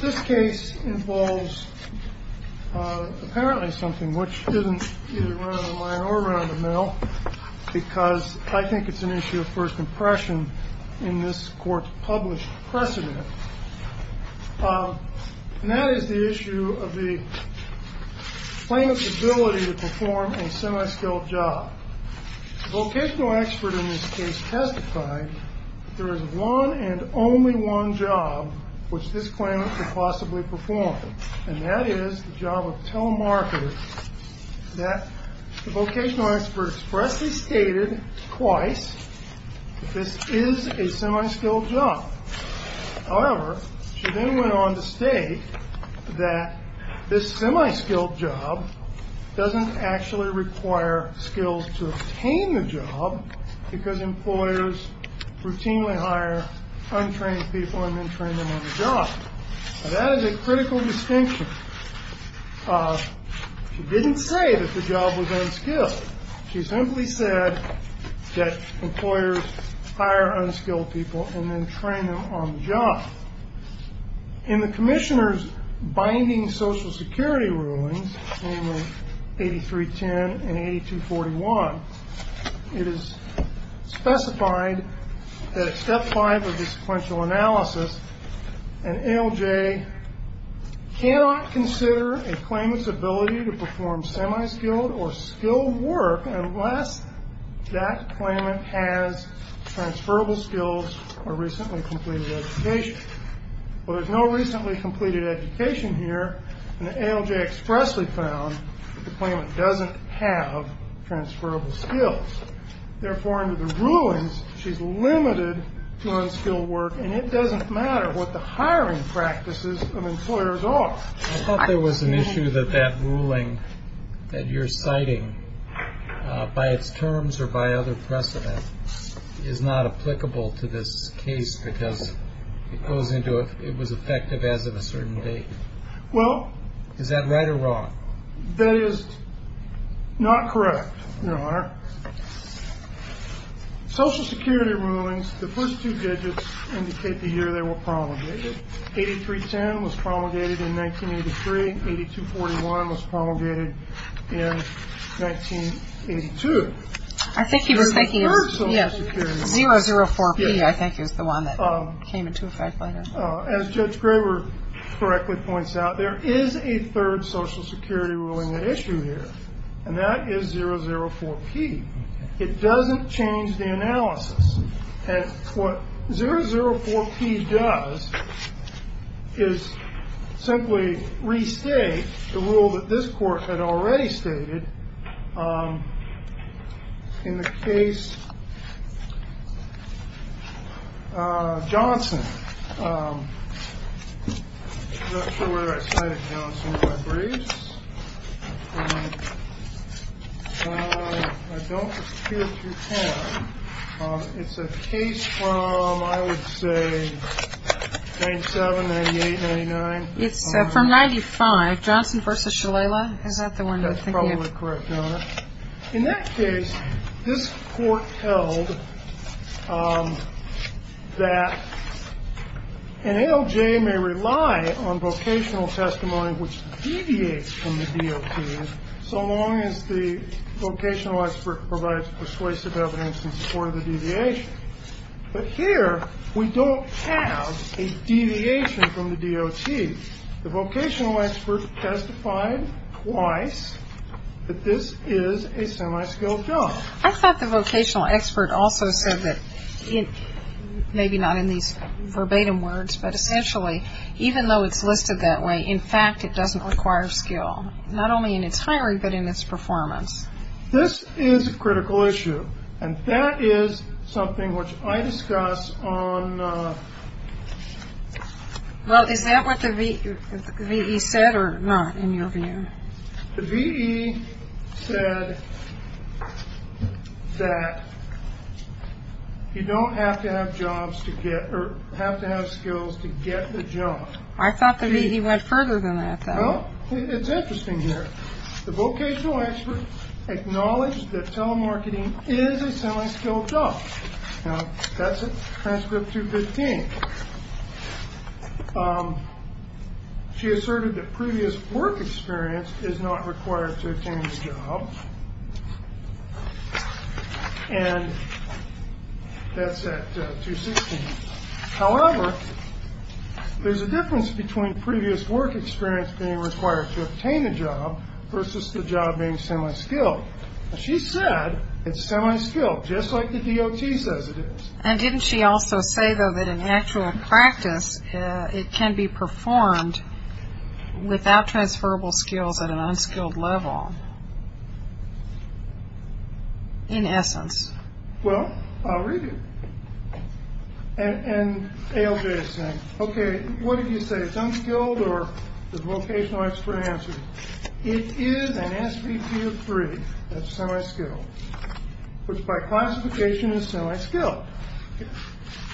This case involves apparently something which isn't either run-of-the-line or around the mill because I think it's an issue of first impression in this court's published precedent. That is the issue of the plaintiff's ability to perform a semi-skilled job. The vocational expert in this case testified that there is one and only one job which this plaintiff could possibly perform, and that is the job of telemarketer, that the vocational expert expressly stated twice that this is a semi-skilled job. However, she then went on to state that this semi-skilled job doesn't actually require skills to obtain the job because employers routinely hire untrained people and then train them on the job. Now, that is a critical distinction. She didn't say that the job was unskilled. She simply said that employers hire unskilled people and then train them on the job. In the commissioner's binding Social Security rulings, namely 8310 and 8241, it is specified that at step five of the sequential analysis, an ALJ cannot consider a claimant's ability to perform semi-skilled or skilled work unless that claimant has transferable skills or recently completed education. Well, there's no recently completed education here, and the ALJ expressly found that the claimant doesn't have transferable skills. Therefore, under the rulings, she's limited to unskilled work, and it doesn't matter what the hiring practices of employers are. I thought there was an issue that that ruling that you're citing, by its terms or by other precedent, is not applicable to this case because it goes into it was effective as of a certain date. Is that right or wrong? That is not correct, Your Honor. Social Security rulings, the first two digits indicate the year they were promulgated. 8310 was promulgated in 1983. 8241 was promulgated in 1982. I think he was thinking of 004P, I think, is the one that came into effect later. As Judge Graber correctly points out, there is a third Social Security ruling at issue here, and that is 004P. It doesn't change the analysis. And what 004P does is simply restate the rule that this Court had already stated, in the case Johnson. I'm not sure where I cited Johnson in my briefs. I don't appear to have. It's a case from, I would say, 97, 98, 99. It's from 95, Johnson v. Shalala. Is that the one you're thinking of? I think you're absolutely correct, Your Honor. In that case, this Court held that an ALJ may rely on vocational testimony which deviates from the DOT, so long as the vocational expert provides persuasive evidence in support of the deviation. But here, we don't have a deviation from the DOT. The vocational expert testified twice that this is a semi-skilled job. I thought the vocational expert also said that, maybe not in these verbatim words, but essentially, even though it's listed that way, in fact, it doesn't require skill, not only in its hiring, but in its performance. This is a critical issue, and that is something which I discuss on... Well, is that what the V.E. said, or not, in your view? The V.E. said that you don't have to have skills to get the job. I thought the V.E. went further than that, though. Well, it's interesting here. The vocational expert acknowledged that telemarketing is a semi-skilled job. Now, that's in Transcript 215. She asserted that previous work experience is not required to obtain the job, and that's at 216. However, there's a difference between previous work experience being required to obtain the job versus the job being semi-skilled. Now, she said it's semi-skilled, just like the DOT says it is. And didn't she also say, though, that in actual practice, it can be performed without transferable skills at an unskilled level, in essence? Well, I'll read it. And ALJ is saying, okay, what did you say, it's unskilled, or the vocational expert answered, it is an SVP of three, that's semi-skilled, which by classification is semi-skilled.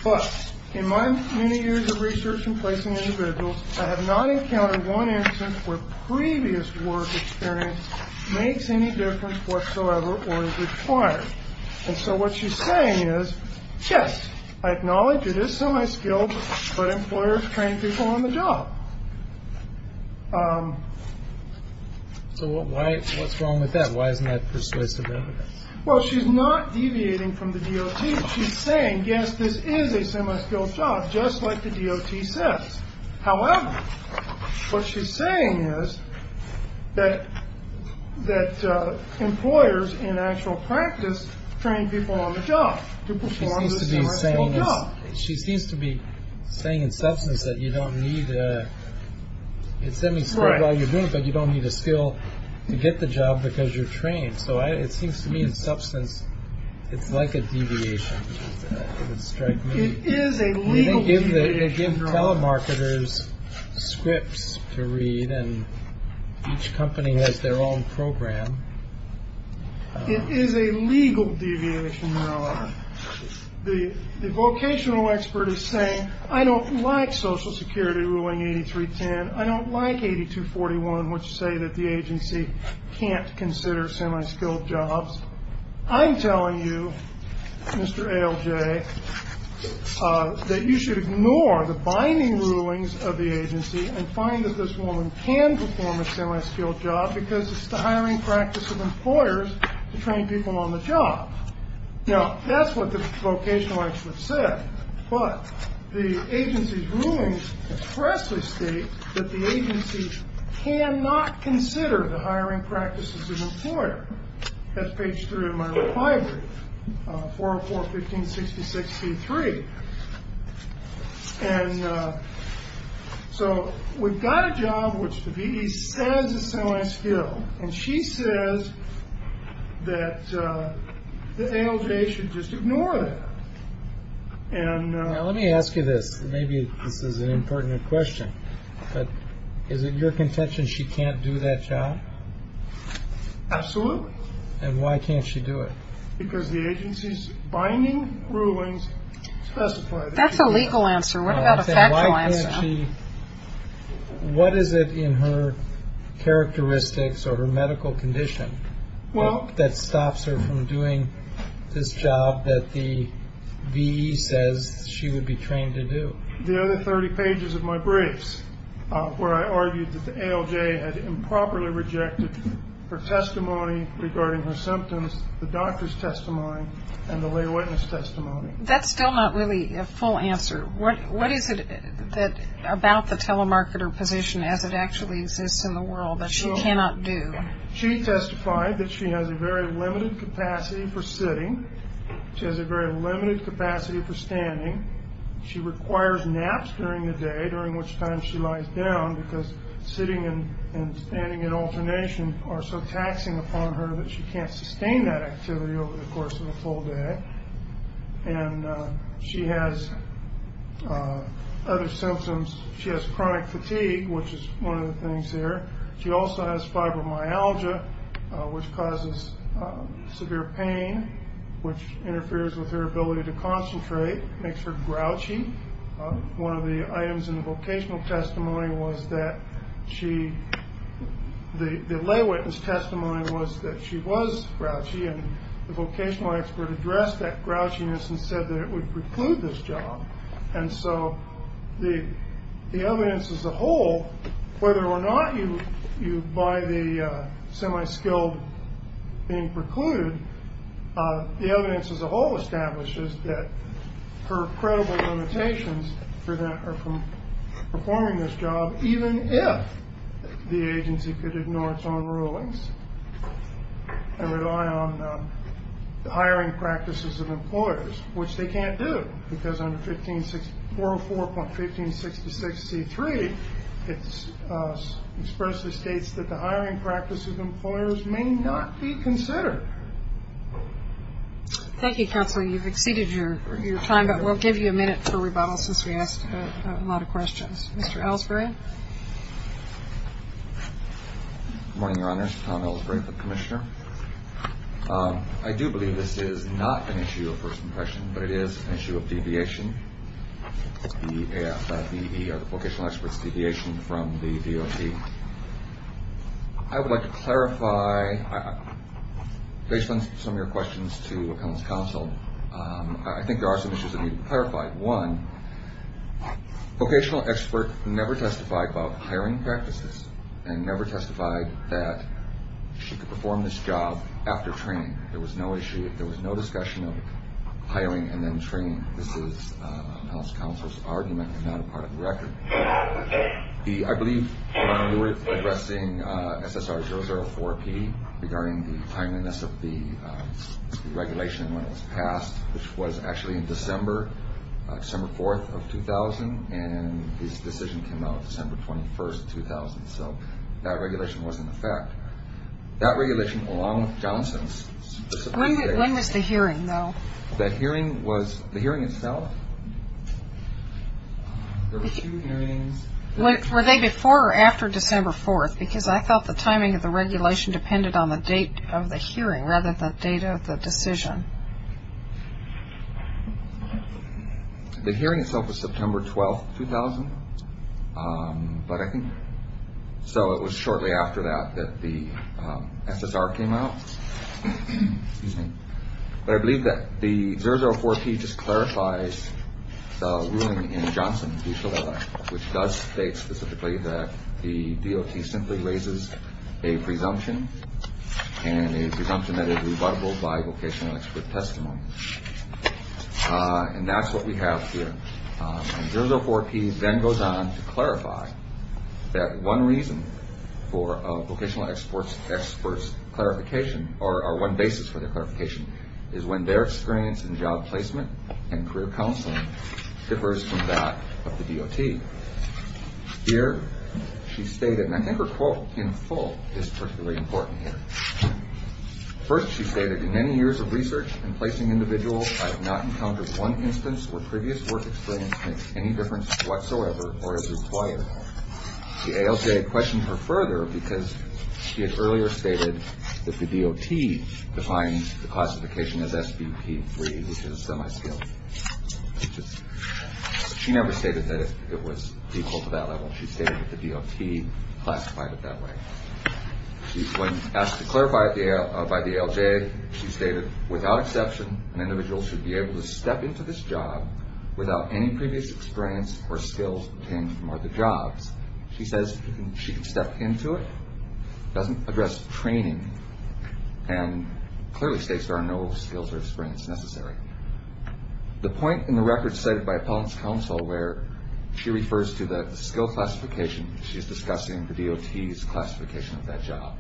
But in my many years of research in placing individuals, I have not encountered one instance where previous work experience makes any difference whatsoever or is required. And so what she's saying is, yes, I acknowledge it is semi-skilled, but employers train people on the job. So what's wrong with that? Why isn't that persuasive evidence? Well, she's not deviating from the DOT. She's saying, yes, this is a semi-skilled job, just like the DOT says. However, what she's saying is that employers in actual practice train people on the job. She seems to be saying in substance that you don't need a semi-skilled while you're doing it, but you don't need a skill to get the job because you're trained. So it seems to me in substance it's like a deviation. It is a legal deviation. They give telemarketers scripts to read and each company has their own program. It is a legal deviation. The vocational expert is saying, I don't like Social Security ruling 8310. I don't like 8241, which say that the agency can't consider semi-skilled jobs. I'm telling you, Mr. ALJ, that you should ignore the binding rulings of the agency and find that this woman can perform a semi-skilled job because it's the hiring practice of employers to train people on the job. Now, that's what the vocational expert said, but the agency's rulings expressly state that the agency cannot consider the hiring practice of an employer. That's page three of my reply brief, 404-1566-C3. And so we've got a job which the VE says is semi-skilled, and she says that the ALJ should just ignore that. Now, let me ask you this. Maybe this is an important question, but is it your contention she can't do that job? Absolutely. And why can't she do it? Because the agency's binding rulings specify that she can't. That's a legal answer. What about a factual answer? What is it in her characteristics or her medical condition that stops her from doing this job that the VE says she would be trained to do? The other 30 pages of my briefs where I argued that the ALJ had improperly rejected her testimony regarding her symptoms, the doctor's testimony, and the lay witness testimony. That's still not really a full answer. What is it about the telemarketer position as it actually exists in the world that she cannot do? She testified that she has a very limited capacity for sitting. She has a very limited capacity for standing. She requires naps during the day, during which time she lies down, because sitting and standing in alternation are so taxing upon her that she can't sustain that activity over the course of a full day. And she has other symptoms. She has chronic fatigue, which is one of the things here. She also has fibromyalgia, which causes severe pain, which interferes with her ability to concentrate, makes her grouchy. One of the items in the vocational testimony was that she, the lay witness testimony was that she was grouchy, and the vocational expert addressed that grouchiness and said that it would preclude this job. And so the evidence as a whole, whether or not you buy the semi-skilled being precluded, the evidence as a whole establishes that her credible limitations prevent her from performing this job, even if the agency could ignore its own rulings and rely on the hiring practices of employers, which they can't do because under 404.1566C3, it expressly states that the hiring practices of employers may not be considered. Thank you, counsel. You've exceeded your time, but we'll give you a minute for rebuttal since we asked a lot of questions. Mr. Ellsbury? Good morning, Your Honors. Tom Ellsbury, the commissioner. I do believe this is not an issue of first impression, but it is an issue of deviation. The vocational experts' deviation from the DOT. I would like to clarify based on some of your questions to counsel. I think there are some issues that need to be clarified. One, vocational experts never testified about hiring practices and never testified that she could perform this job after training. There was no issue. There was no discussion of hiring and then training. This is counsel's argument and not a part of the record. I believe you were addressing SSR004P regarding the timeliness of the regulation when it was passed, which was actually in December, December 4th of 2000, and this decision came out December 21st, 2000. So that regulation wasn't in effect. That regulation, along with Johnson's. When was the hearing, though? That hearing was the hearing itself. There were two hearings. Were they before or after December 4th? Because I felt the timing of the regulation depended on the date of the hearing rather than the date of the decision. The hearing itself was September 12th, 2000, so it was shortly after that that the SSR came out. But I believe that the 004P just clarifies the ruling in Johnson v. a presumption and a presumption that it is rebuttable by vocational expert testimony. And that's what we have here. And 004P then goes on to clarify that one reason for a vocational expert's clarification or one basis for their clarification is when their experience in job placement and career counseling differs from that of the DOT. Here she stated, and I think her quote in full is particularly important here. First she stated, in many years of research in placing individuals, I have not encountered one instance where previous work experience makes any difference whatsoever or is required. The ALJ questioned her further because she had earlier stated that the DOT defines the classification as SBP3, which is semi-skilled. She never stated that it was equal to that level. She stated that the DOT classified it that way. When asked to clarify it by the ALJ, she stated, without exception, an individual should be able to step into this job without any previous experience or skills obtained from other jobs. She says she can step into it, doesn't address training, and clearly states there are no skills or experience necessary. The point in the record cited by Appellant's Counsel where she refers to the skill classification, she is discussing the DOT's classification of that job.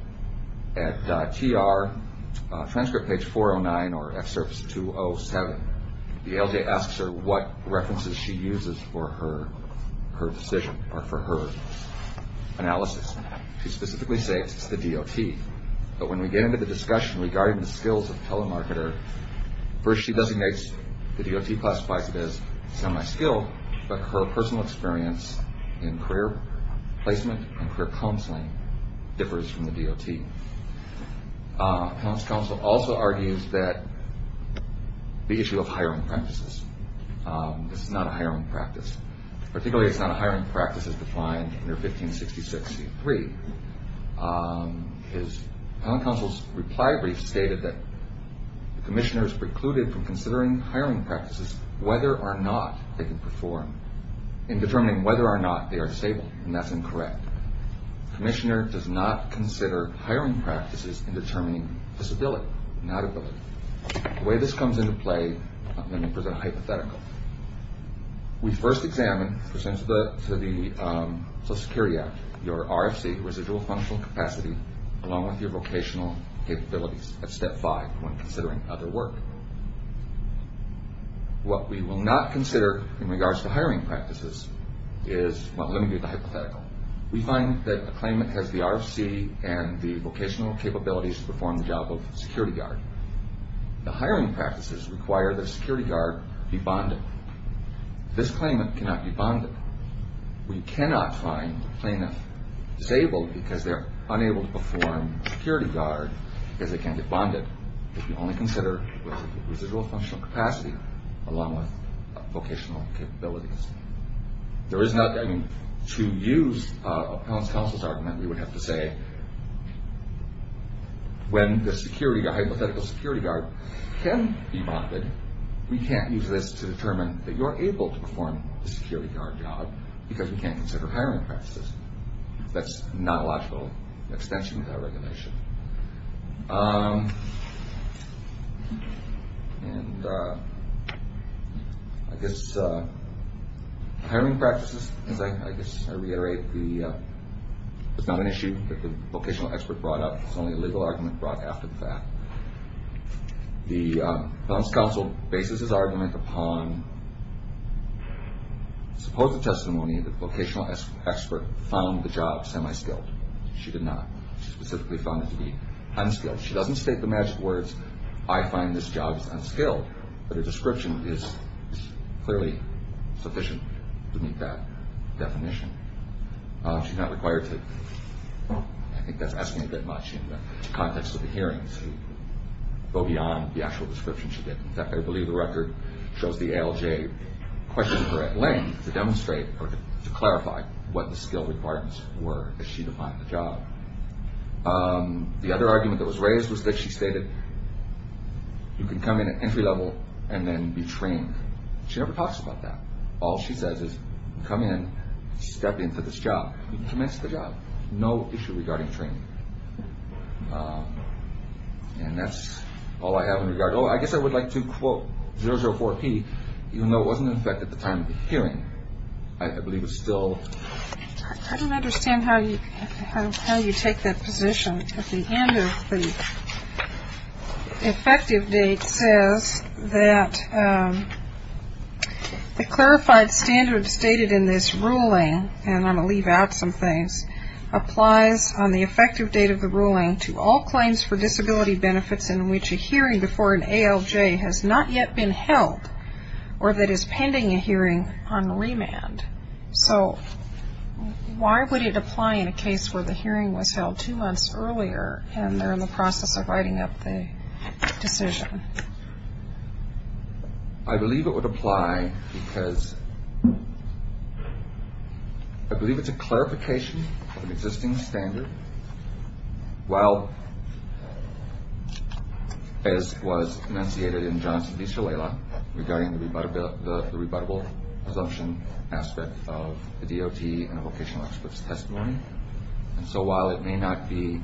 At TR, transcript page 409 or excerpt 207, the ALJ asks her what references she uses for her decision or for her analysis. She specifically states it's the DOT. But when we get into the discussion regarding the skills of telemarketer, first she designates the DOT classifies it as semi-skilled, but her personal experience in career placement and career counseling differs from the DOT. Appellant's Counsel also argues that the issue of hiring practices. This is not a hiring practice. Particularly it's not a hiring practice as defined under 1566C3. Appellant's Counsel's reply brief stated that the Commissioner is precluded from considering hiring practices whether or not they can perform in determining whether or not they are stable, and that's incorrect. The Commissioner does not consider hiring practices in determining disability, not ability. The way this comes into play, let me present a hypothetical. We first examine, as it pertains to the Social Security Act, your RFC, residual functional capacity, along with your vocational capabilities at step five when considering other work. What we will not consider in regards to hiring practices is, well, let me give you the hypothetical. We find that a claimant has the RFC and the vocational capabilities to perform the job of security guard. The hiring practices require the security guard to be bonded. This claimant cannot be bonded. We cannot find a claimant disabled because they're unable to perform security guard because they can't be bonded. We only consider residual functional capacity along with vocational capabilities. To use Appellant's Counsel's argument, we would have to say when the hypothetical security guard can be bonded, we can't use this to determine that you're able to perform the security guard job because we can't consider hiring practices. That's not a logical extension of that regulation. And I guess hiring practices, as I reiterate, is not an issue that the vocational expert brought up. It's only a legal argument brought after the fact. The Appellant's Counsel bases his argument upon supposed testimony that the vocational expert found the job semi-skilled. She did not. She specifically found it to be unskilled. She doesn't state the magic words, I find this job unskilled. But her description is clearly sufficient to meet that definition. She's not required to, I think that's asking a bit much in the context of the hearings, to go beyond the actual description she did. In fact, I believe the record shows the ALJ questioned her at length to demonstrate or to clarify what the skilled requirements were as she defined the job. The other argument that was raised was that she stated you can come in at entry level and then be trained. She never talks about that. All she says is come in, step into this job, you can commence the job. No issue regarding training. And that's all I have in regard. I guess I would like to quote 004P, even though it wasn't in effect at the time of the hearing. I believe it's still. I don't understand how you take that position. At the end of the effective date says that the clarified standards stated in this ruling, and I'm going to leave out some things, applies on the effective date of the ruling to all claims for disability benefits in which a hearing before an ALJ has not yet been held or that is pending a hearing on remand. So why would it apply in a case where the hearing was held two months earlier and they're in the process of writing up the decision? I believe it would apply because I believe it's a clarification of an existing standard. Well, as was enunciated in Johnson v. Shalala, regarding the rebuttable assumption aspect of the DOT and vocational experts testimony. And so while it may not be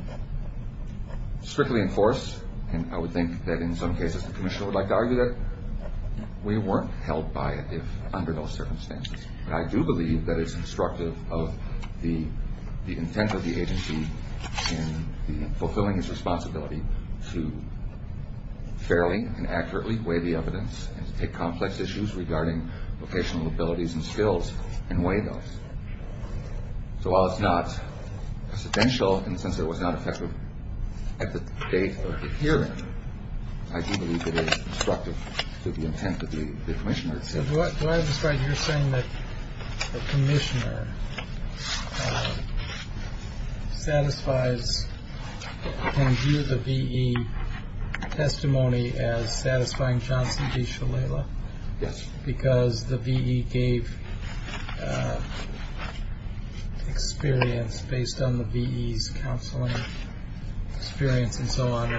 strictly enforced, and I would think that in some cases the commissioner would like to argue that, we weren't held by it under those circumstances. But I do believe that it's instructive of the intent of the agency in fulfilling its responsibility to fairly and accurately weigh the evidence and to take complex issues regarding vocational abilities and skills and weigh those. So while it's not presidential in the sense that it was not effective at the date of the hearing, I do believe it is instructive to the intent of the commissioner. Do I understand you're saying that the commissioner satisfies and views the V.E. testimony as satisfying Johnson v. Shalala? Yes. Because the V.E. gave experience based on the V.E.'s counseling experience and so on.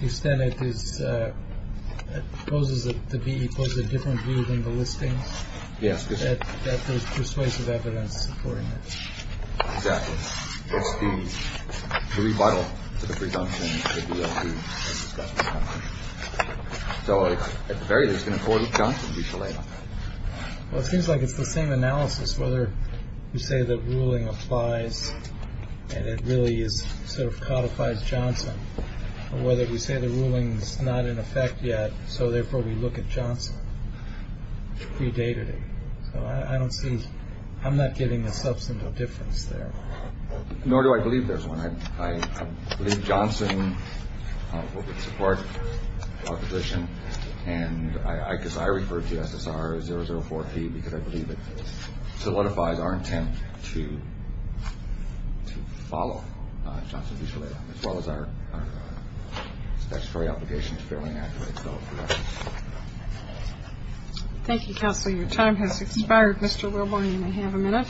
You said that this poses a different view than the listing. Yes. That there's persuasive evidence supporting it. Exactly. It's the rebuttal to the presumption of the L.D. So at the very least, it's going to afford Johnson v. Shalala. Well, it seems like it's the same analysis, whether you say the ruling applies and it really is sort of codifies Johnson or whether we say the ruling is not in effect yet. So therefore, we look at Johnson predated. So I don't see I'm not getting a substantial difference there. Nor do I believe there's one. I believe Johnson would support opposition, and I guess I refer to SSR as 004P because I believe it solidifies our intent to follow Johnson v. Shalala, as well as our statutory obligation to fairly accurately develop protections. Thank you, Counselor. Your time has expired, Mr. Wilborn. You may have a minute.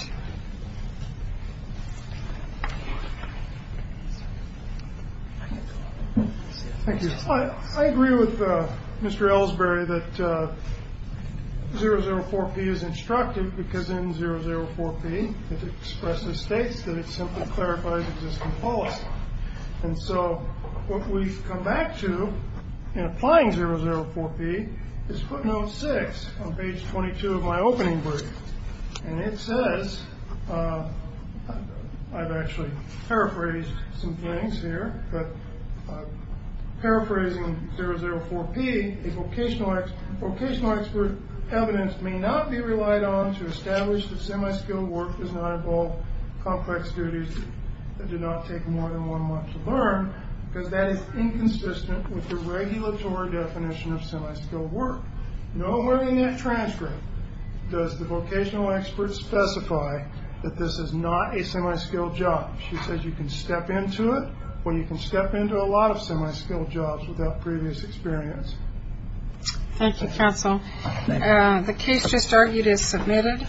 Thank you. I agree with Mr. Ellsbury that 004P is instructive because in 004P, it expressly states that it simply clarifies existing policy. And so what we've come back to in applying 004P is footnote six on page 22 of my opening brief. And it says, I've actually paraphrased some things here, but paraphrasing 004P, a vocational expert evidence may not be relied on to establish that semi-skilled work does not involve complex duties that do not take more than one month to learn because that is inconsistent with the regulatory definition of semi-skilled work. Nowhere in that transcript does the vocational expert specify that this is not a semi-skilled job. She says you can step into it, or you can step into a lot of semi-skilled jobs without previous experience. Thank you, Counsel. The case just argued is submitted.